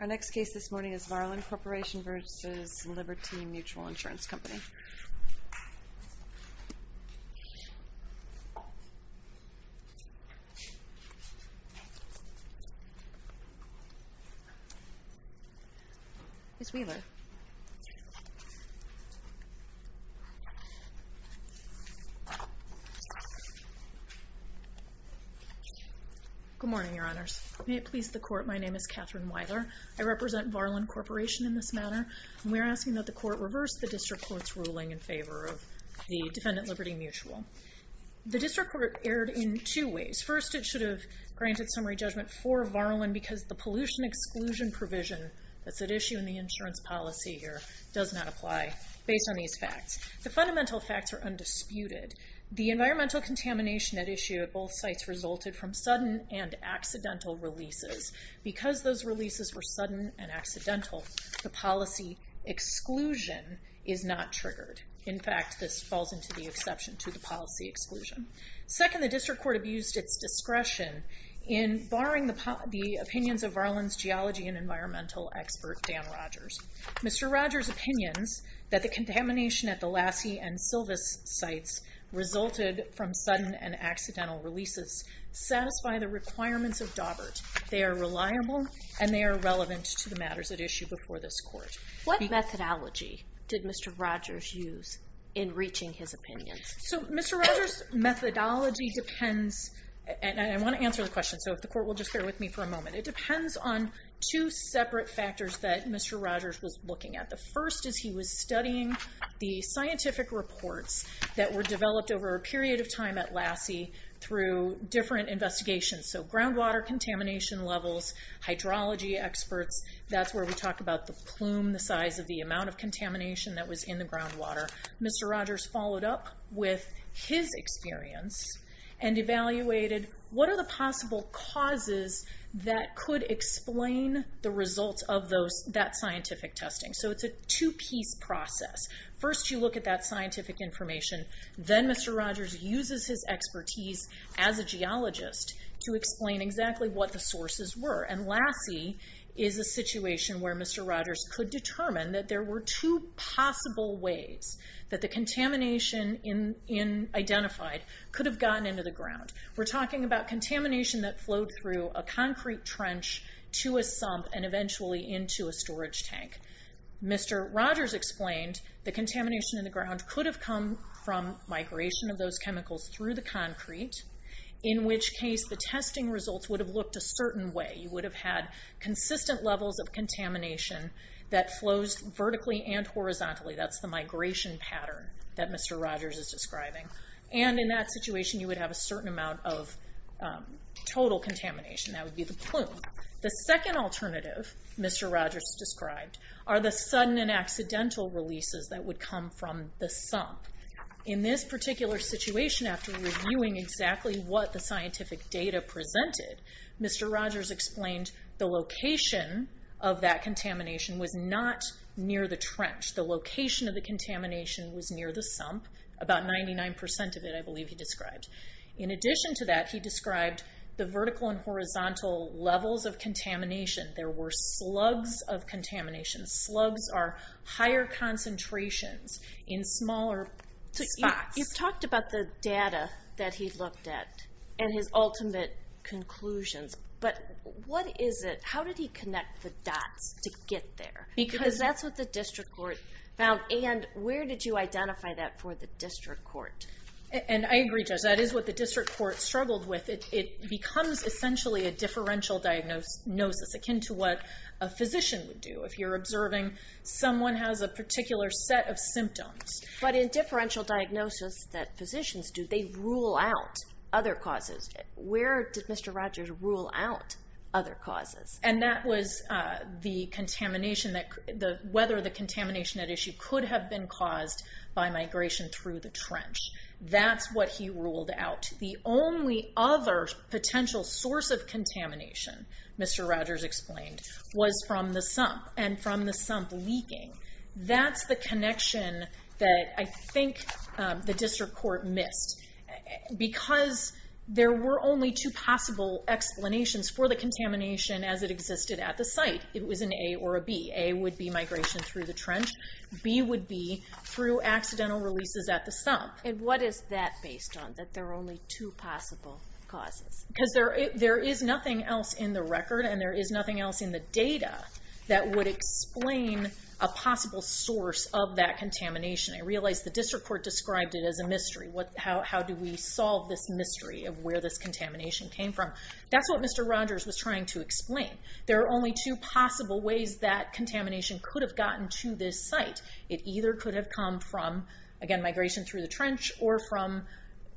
Our next case this morning is Varlen Corporation v. Liberty Mutual Insurance Company. Ms. Wheeler. Good morning, Your Honors. May it please the Court, my name is Katherine Wheeler. I represent Varlen Corporation in this matter. We're asking that the Court reverse the District Court's ruling in favor of the Defendant Liberty Mutual. The District Court erred in two ways. First, it should have granted summary judgment for Varlen because the pollution exclusion provision that's at issue in the insurance policy here does not apply based on these facts. The fundamental facts are undisputed. The environmental contamination at issue at both sites resulted from sudden and accidental releases. Because those releases were sudden and accidental, the policy exclusion is not triggered. In fact, this falls into the exception to the policy exclusion. Second, the District Court abused its discretion in barring the opinions of Varlen's geology and environmental expert, Dan Rogers. Mr. Rogers' opinions that the contamination at the Lassie and Silvis sites resulted from sudden and accidental releases satisfy the requirements of Daubert. They are reliable and they are relevant to the matters at issue before this Court. What methodology did Mr. Rogers use in reaching his opinions? So Mr. Rogers' methodology depends, and I want to answer the question so if the Court will just bear with me for a moment. It depends on two separate factors that Mr. Rogers was looking at. The first is he was studying the scientific reports that were developed over a period of time at Lassie through different investigations. So groundwater contamination levels, hydrology experts, that's where we talk about the plume, the size of the amount of contamination that was in the groundwater. Mr. Rogers followed up with his experience and evaluated what are the possible causes that could explain the results of that scientific testing. So it's a two-piece process. First you look at that scientific information, then Mr. Rogers uses his expertise as a geologist to explain exactly what the sources were. And Lassie is a situation where Mr. Rogers could determine that there were two possible ways that the contamination identified could have gotten into the ground. We're talking about contamination that flowed through a concrete trench to a sump and eventually into a storage tank. Mr. Rogers explained the contamination in the ground could have come from migration of those chemicals through the concrete, in which case the testing results would have looked a certain way. You would have had consistent levels of contamination that flows vertically and horizontally. That's the migration pattern that Mr. Rogers is describing. And in that situation you would have a certain amount of total contamination. That would be the plume. The second alternative Mr. Rogers described are the sudden and accidental releases that would come from the sump. In this particular situation, after reviewing exactly what the scientific data presented, Mr. Rogers explained the location of that contamination was not near the trench. The location of the contamination was near the sump. About 99% of it I believe he described. In addition to that, he described the vertical and horizontal levels of contamination. There were slugs of contamination. Slugs are higher concentrations in smaller spots. You've talked about the data that he looked at and his ultimate conclusions, but how did he connect the dots to get there? Because that's what the district court found, and where did you identify that for the district court? I agree, Judge. That is what the district court struggled with. It becomes essentially a differential diagnosis akin to what a physician would do. If you're observing someone has a particular set of symptoms. But in differential diagnosis that physicians do, they rule out other causes. Where did Mr. Rogers rule out other causes? That was whether the contamination at issue could have been caused by migration through the trench. That's what he ruled out. The only other potential source of contamination, Mr. Rogers explained, was from the sump and from the sump leaking. That's the connection that I think the district court missed. Because there were only two possible explanations for the contamination as it existed at the site. It was an A or a B. A would be migration through the trench. B would be through accidental releases at the sump. And what is that based on, that there are only two possible causes? Because there is nothing else in the record and there is nothing else in the data that would explain a possible source of that contamination. I realize the district court described it as a mystery. How do we solve this mystery of where this contamination came from? That's what Mr. Rogers was trying to explain. There are only two possible ways that contamination could have gotten to this site. It either could have come from, again, migration through the trench or from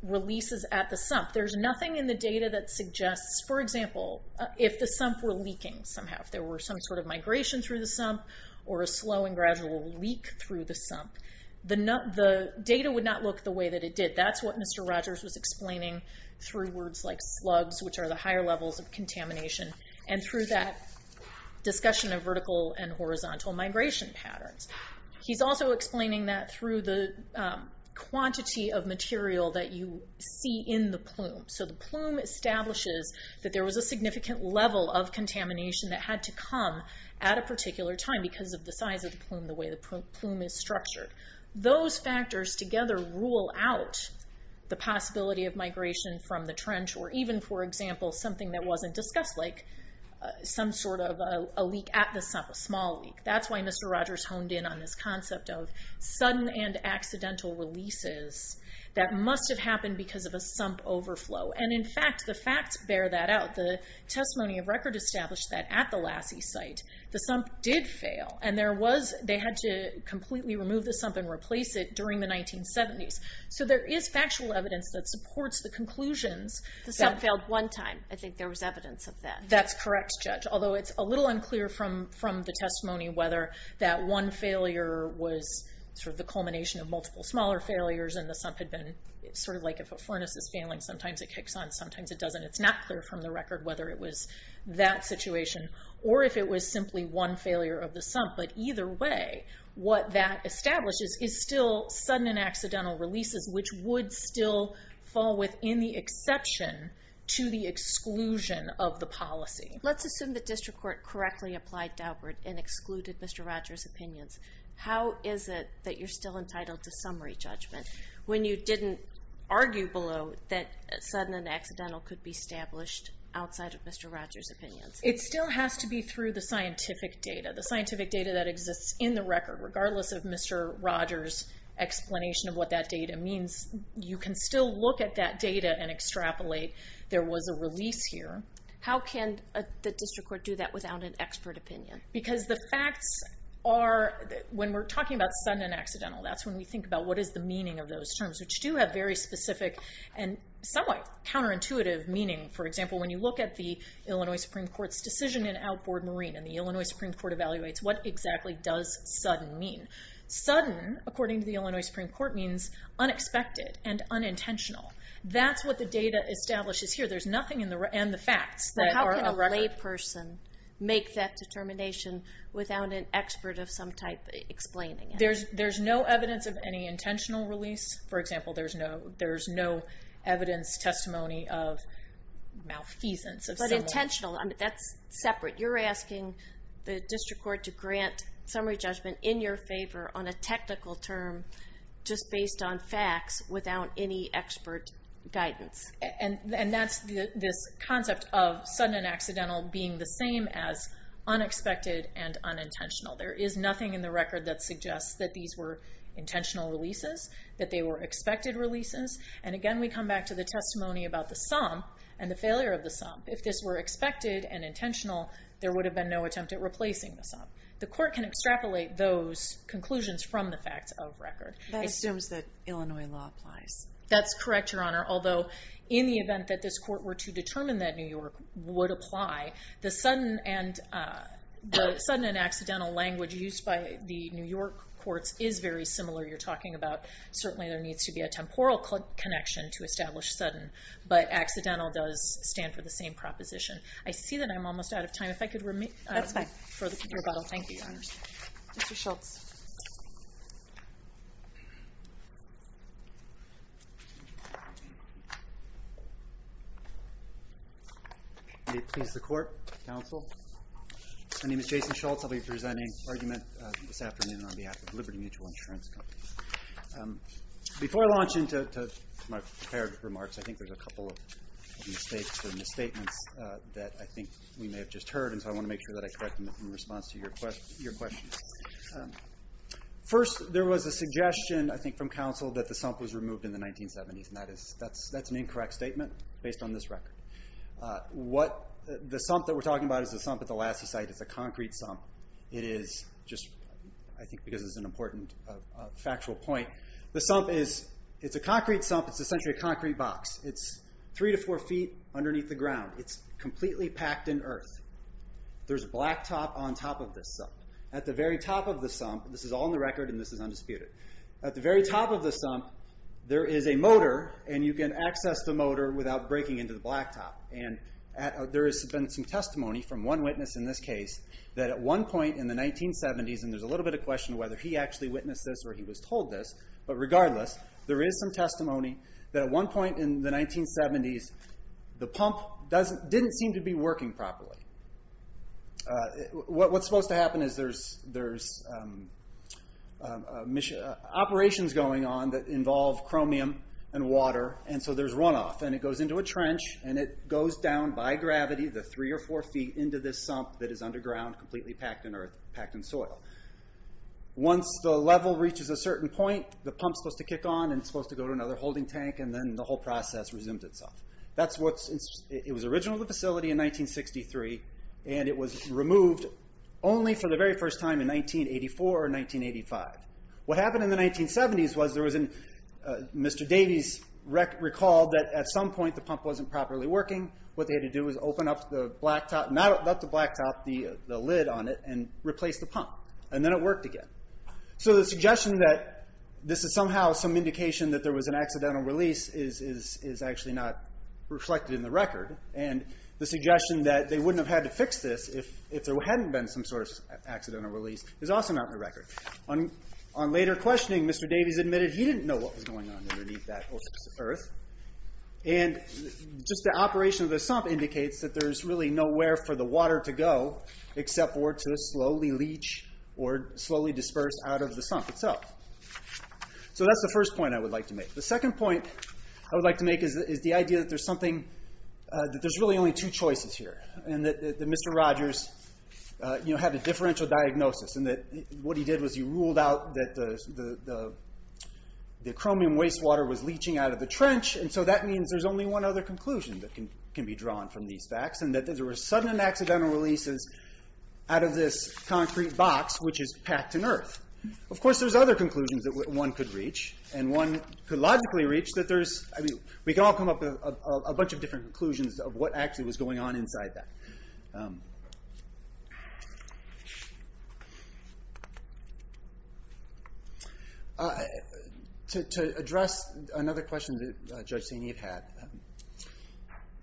releases at the sump. There's nothing in the data that suggests, for example, if the sump were leaking somehow. If there were some sort of migration through the sump or a slow and gradual leak through the sump. The data would not look the way that it did. That's what Mr. Rogers was explaining through words like slugs, which are the higher levels of contamination. And through that discussion of vertical and horizontal migration patterns. He's also explaining that through the quantity of material that you see in the plume. The plume establishes that there was a significant level of contamination that had to come at a particular time because of the size of the plume, the way the plume is structured. Those factors together rule out the possibility of migration from the trench or even, for example, something that wasn't discussed. Like some sort of a leak at the sump, a small leak. That's why Mr. Rogers honed in on this concept of sudden and accidental releases that must have happened because of a sump overflow. And in fact, the facts bear that out. The testimony of record established that at the Lassie site, the sump did fail. And they had to completely remove the sump and replace it during the 1970s. So there is factual evidence that supports the conclusions. The sump failed one time. I think there was evidence of that. That's correct, Judge. Although it's a little unclear from the testimony whether that one failure was sort of the culmination of multiple smaller failures. And the sump had been sort of like if a furnace is failing, sometimes it kicks on, sometimes it doesn't. It's not clear from the record whether it was that situation. Or if it was simply one failure of the sump. But either way, what that establishes is still sudden and accidental releases, which would still fall within the exception to the exclusion of the policy. Let's assume the district court correctly applied Daubert and excluded Mr. Rogers' opinions. How is it that you're still entitled to summary judgment when you didn't argue below that sudden and accidental could be established outside of Mr. Rogers' opinions? It still has to be through the scientific data. The scientific data that exists in the record, regardless of Mr. Rogers' explanation of what that data means, you can still look at that data and extrapolate there was a release here. How can the district court do that without an expert opinion? Because the facts are, when we're talking about sudden and accidental, that's when we think about what is the meaning of those terms, which do have very specific and somewhat counterintuitive meaning. For example, when you look at the Illinois Supreme Court's decision in Alcord Marine, and the Illinois Supreme Court evaluates what exactly does sudden mean. Sudden, according to the Illinois Supreme Court, means unexpected and unintentional. That's what the data establishes here. There's nothing in the facts that are of record. But how can a layperson make that determination without an expert of some type explaining it? There's no evidence of any intentional release. For example, there's no evidence, testimony of malfeasance. But intentional, that's separate. You're asking the district court to grant summary judgment in your favor on a technical term, just based on facts, without any expert guidance. And that's this concept of sudden and accidental being the same as unexpected and unintentional. There is nothing in the record that suggests that these were intentional releases, that they were expected releases. And again, we come back to the testimony about the sum and the failure of the sum. If this were expected and intentional, there would have been no attempt at replacing the sum. The court can extrapolate those conclusions from the facts of record. That assumes that Illinois law applies. That's correct, Your Honor. Although, in the event that this court were to determine that New York would apply, the sudden and accidental language used by the New York courts is very similar. You're talking about certainly there needs to be a temporal connection to establish sudden. But accidental does stand for the same proposition. I see that I'm almost out of time. If I could remain for the rebuttal. Thank you, Your Honor. Mr. Schultz. May it please the court, counsel. My name is Jason Schultz. I'll be presenting argument this afternoon on behalf of Liberty Mutual Insurance Company. Before I launch into my prepared remarks, I think there's a couple of mistakes or misstatements that I think we may have just heard, and so I want to make sure that I correct them in response to your questions. First, there was a suggestion, I think, from counsel that the sum was removed in the 1970s, and that's an incorrect statement based on this record. The sump that we're talking about is the sump at the Lassie site. It's a concrete sump. It is just, I think, because it's an important factual point. The sump is a concrete sump. It's essentially a concrete box. It's three to four feet underneath the ground. It's completely packed in earth. There's a black top on top of this sump. At the very top of the sump, this is all in the record, and this is undisputed. At the very top of the sump, there is a motor, and you can access the motor without breaking into the black top. There has been some testimony from one witness in this case that at one point in the 1970s, and there's a little bit of question whether he actually witnessed this or he was told this, but regardless, there is some testimony that at one point in the 1970s, the pump didn't seem to be working properly. What's supposed to happen is there's operations going on that involve chromium and water, and so there's runoff. It goes into a trench, and it goes down by gravity, the three or four feet, into this sump that is underground, completely packed in earth, packed in soil. Once the level reaches a certain point, the pump's supposed to kick on, and it's supposed to go to another holding tank, and then the whole process resumed itself. It was original to the facility in 1963, and it was removed only for the very first time in 1984 or 1985. What happened in the 1970s was Mr. Davies recalled that at some point, the pump wasn't properly working. What they had to do was open up the black top, not the black top, the lid on it, and replace the pump, and then it worked again. So the suggestion that this is somehow some indication that there was an accidental release is actually not reflected in the record, and the suggestion that they wouldn't have had to fix this On later questioning, Mr. Davies admitted he didn't know what was going on underneath that earth, and just the operation of the sump indicates that there's really nowhere for the water to go except for to slowly leach or slowly disperse out of the sump itself. So that's the first point I would like to make. The second point I would like to make is the idea that there's something, that there's really only two choices here, and that Mr. Rogers had a differential diagnosis, and that what he did was he ruled out that the chromium wastewater was leaching out of the trench, and so that means there's only one other conclusion that can be drawn from these facts, and that there were sudden and accidental releases out of this concrete box, which is packed in earth. Of course, there's other conclusions that one could reach, and one could logically reach that there's... We can all come up with a bunch of different conclusions of what actually was going on inside that. To address another question that Judge Saini had,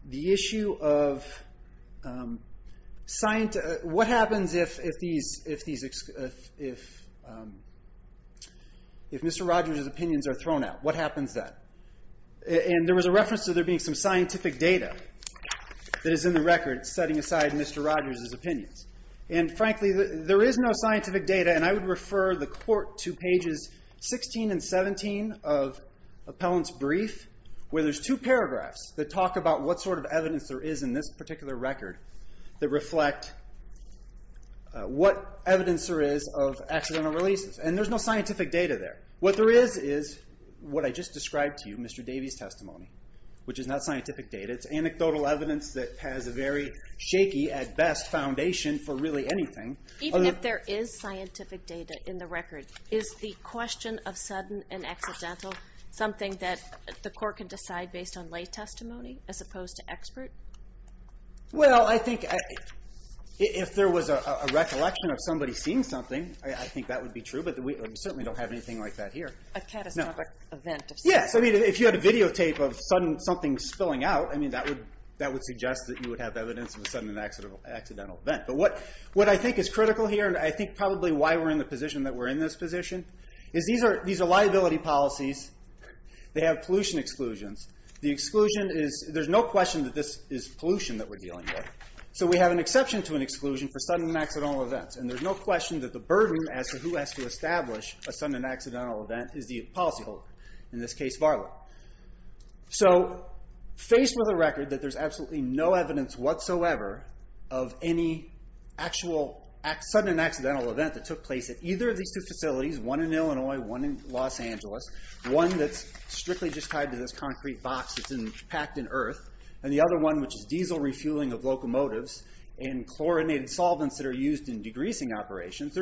the issue of... What happens if Mr. Rogers' opinions are thrown out? What happens then? And there was a reference to there being some scientific data that is in the record setting aside Mr. Rogers' opinions, and frankly, there is no scientific data, and I would refer the court to pages 16 and 17 of Appellant's brief, where there's two paragraphs that talk about what sort of evidence there is in this particular record that reflect what evidence there is of accidental releases, and there's no scientific data there. What there is is what I just described to you, Mr. Davies' testimony, which is not scientific data. It's anecdotal evidence that has a very shaky, at best, foundation for really anything. Even if there is scientific data in the record, is the question of sudden and accidental something that the court can decide based on lay testimony as opposed to expert? Well, I think if there was a recollection of somebody seeing something, I think that would be true, but we certainly don't have anything like that here. A catastrophic event of some sort. Yes, if you had a videotape of something spilling out, that would suggest that you would have evidence of a sudden and accidental event, but what I think is critical here, and I think probably why we're in the position that we're in this position, is these are liability policies. They have pollution exclusions. There's no question that this is pollution that we're dealing with, so we have an exception to an exclusion for sudden and accidental events, and there's no question that the burden as to who has to establish a sudden and accidental event is the policyholder, in this case Varla. So, faced with a record that there's absolutely no evidence whatsoever of any actual sudden and accidental event that took place at either of these two facilities, one in Illinois, one in Los Angeles, one that's strictly just tied to this concrete box that's packed in earth, and the other one which is diesel refueling of locomotives and chlorinated solvents that are used in degreasing operations,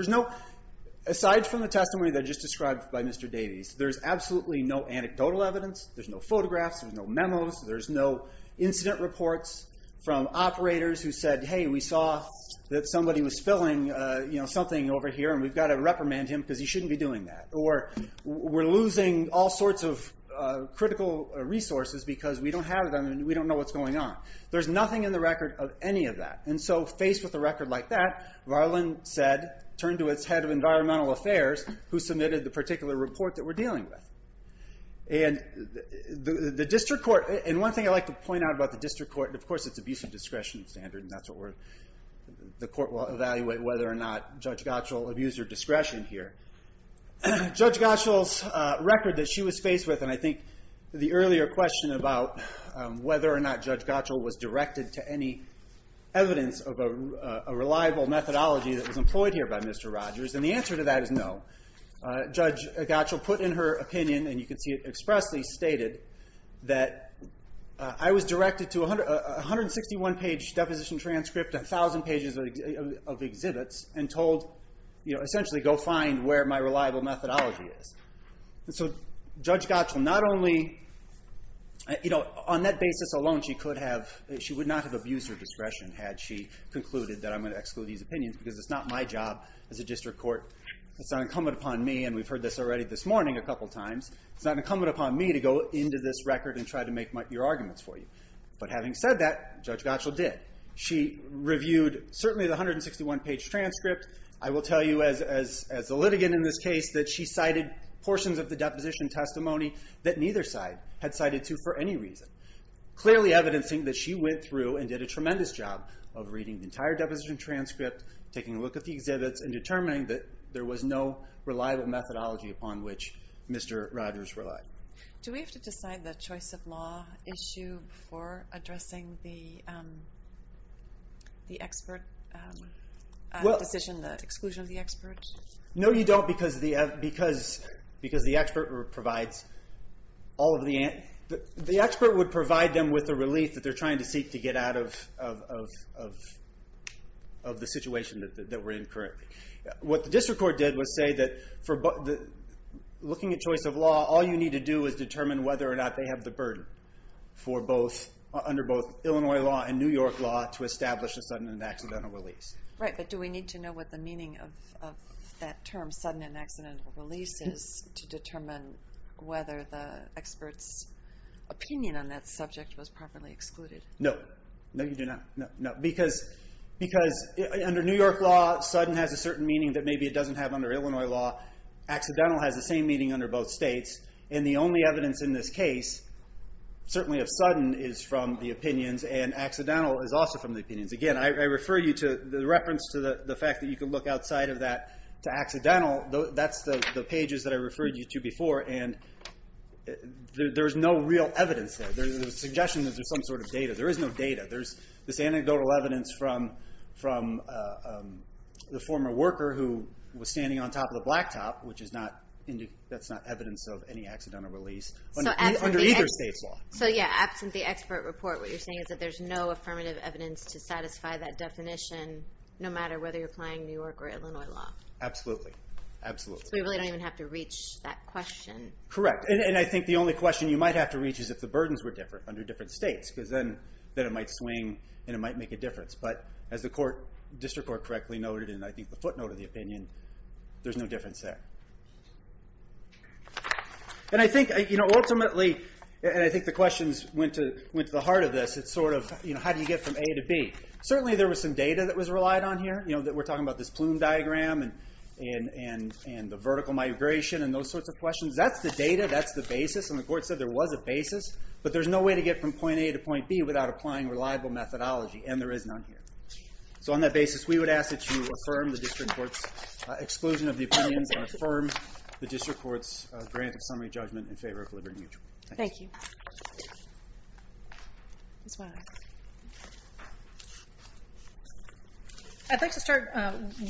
aside from the testimony that I just described by Mr. Davies, there's absolutely no anecdotal evidence. There's no photographs. There's no memos. There's no incident reports from operators who said, hey, we saw that somebody was filling something over here, and we've got to reprimand him because he shouldn't be doing that, or we're losing all sorts of critical resources because we don't have them and we don't know what's going on. There's nothing in the record of any of that, and so faced with a record like that, Varlin turned to its head of environmental affairs who submitted the particular report that we're dealing with. And one thing I'd like to point out about the district court, and of course it's abuse of discretion standard, and the court will evaluate whether or not Judge Gottschall abused her discretion here. Judge Gottschall's record that she was faced with, and I think the earlier question about whether or not Judge Gottschall was directed to any evidence of a reliable methodology that was employed here by Mr. Rogers, and the answer to that is no. Judge Gottschall put in her opinion, and you can see it expressly stated, that I was directed to a 161-page deposition transcript, a thousand pages of exhibits, and told essentially go find where my reliable methodology is. Judge Gottschall, on that basis alone, she would not have abused her discretion had she concluded that I'm going to exclude these opinions, because it's not my job as a district court, it's not incumbent upon me, and we've heard this already this morning a couple times, it's not incumbent upon me to go into this record and try to make your arguments for you. But having said that, Judge Gottschall did. She reviewed certainly the 161-page transcript. I will tell you as a litigant in this case that she cited portions of the deposition testimony that neither side had cited to for any reason, clearly evidencing that she went through and did a tremendous job of reading the entire deposition transcript, taking a look at the exhibits, and determining that there was no reliable methodology upon which Mr. Rogers relied. Do we have to decide the choice of law issue before addressing the expert decision, the exclusion of the expert? No, you don't, because the expert would provide them with a relief that they're trying to seek to get out of the situation that we're in currently. What the district court did was say that looking at choice of law, all you need to do is determine whether or not they have the burden under both Illinois law and New York law to establish a sudden and accidental release. Right, but do we need to know what the meaning of that term, sudden and accidental release is, to determine whether the expert's opinion on that subject was properly excluded? No, you do not. Because under New York law, sudden has a certain meaning that maybe it doesn't have under Illinois law. Accidental has the same meaning under both states. And the only evidence in this case, certainly of sudden, is from the opinions, and accidental is also from the opinions. Again, I refer you to the reference to the fact that you can look outside of that to accidental. That's the pages that I referred you to before, and there's no real evidence there. There's a suggestion that there's some sort of data. There is no data. There's this anecdotal evidence from the former worker who was standing on top of the blacktop, which is not evidence of any accidental release under either state's law. So, yeah, absent the expert report, what you're saying is that there's no affirmative evidence to satisfy that definition, no matter whether you're applying New York or Illinois law. Absolutely. So we really don't even have to reach that question. Correct. And I think the only question you might have to reach is if the burdens were different under different states, because then it might swing and it might make a difference. But as the District Court correctly noted, and I think the footnote of the opinion, there's no difference there. And I think ultimately, and I think the questions went to the heart of this, it's sort of how do you get from A to B. Certainly there was some data that was relied on here. We're talking about this plume diagram and the vertical migration and those sorts of questions. That's the data. That's the basis, and the court said there was a basis. But there's no way to get from point A to point B without applying reliable methodology, and there is none here. So on that basis, we would ask that you affirm the District Court's exclusion of the opinion and affirm the District Court's grant of summary judgment in favor of liberty and mutual. Thank you. I'd like to start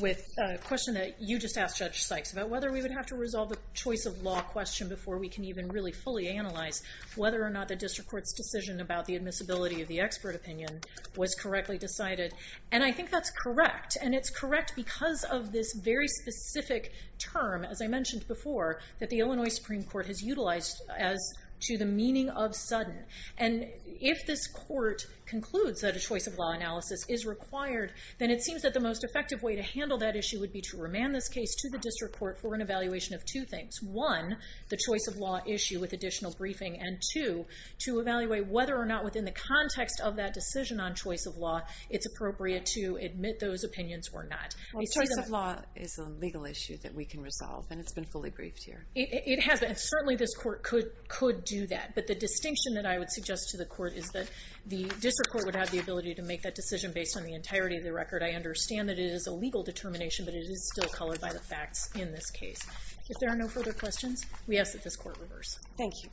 with a question that you just asked Judge Sykes about whether we would have to resolve a choice of law question before we can even really fully analyze whether or not the District Court's decision about the admissibility of the expert opinion was correctly decided. And I think that's correct, and it's correct because of this very specific term, as I mentioned before, that the Illinois Supreme Court has utilized as to the meaning of sudden. And if this court concludes that a choice of law analysis is required, then it seems that the most effective way to handle that issue would be to remand this case to the District Court for an evaluation of two things. One, the choice of law issue with additional briefing, and two, to evaluate whether or not within the context of that decision on choice of law it's appropriate to admit those opinions were not. Choice of law is a legal issue that we can resolve, and it's been fully briefed here. It has been, and certainly this court could do that. But the distinction that I would suggest to the court is that the District Court would have the ability to make that decision based on the entirety of the record. I understand that it is a legal determination, but it is still colored by the facts in this case. If there are no further questions, we ask that this court reverse. Thank you.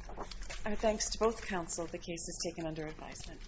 Our thanks to both counsel. The case is taken under advisement.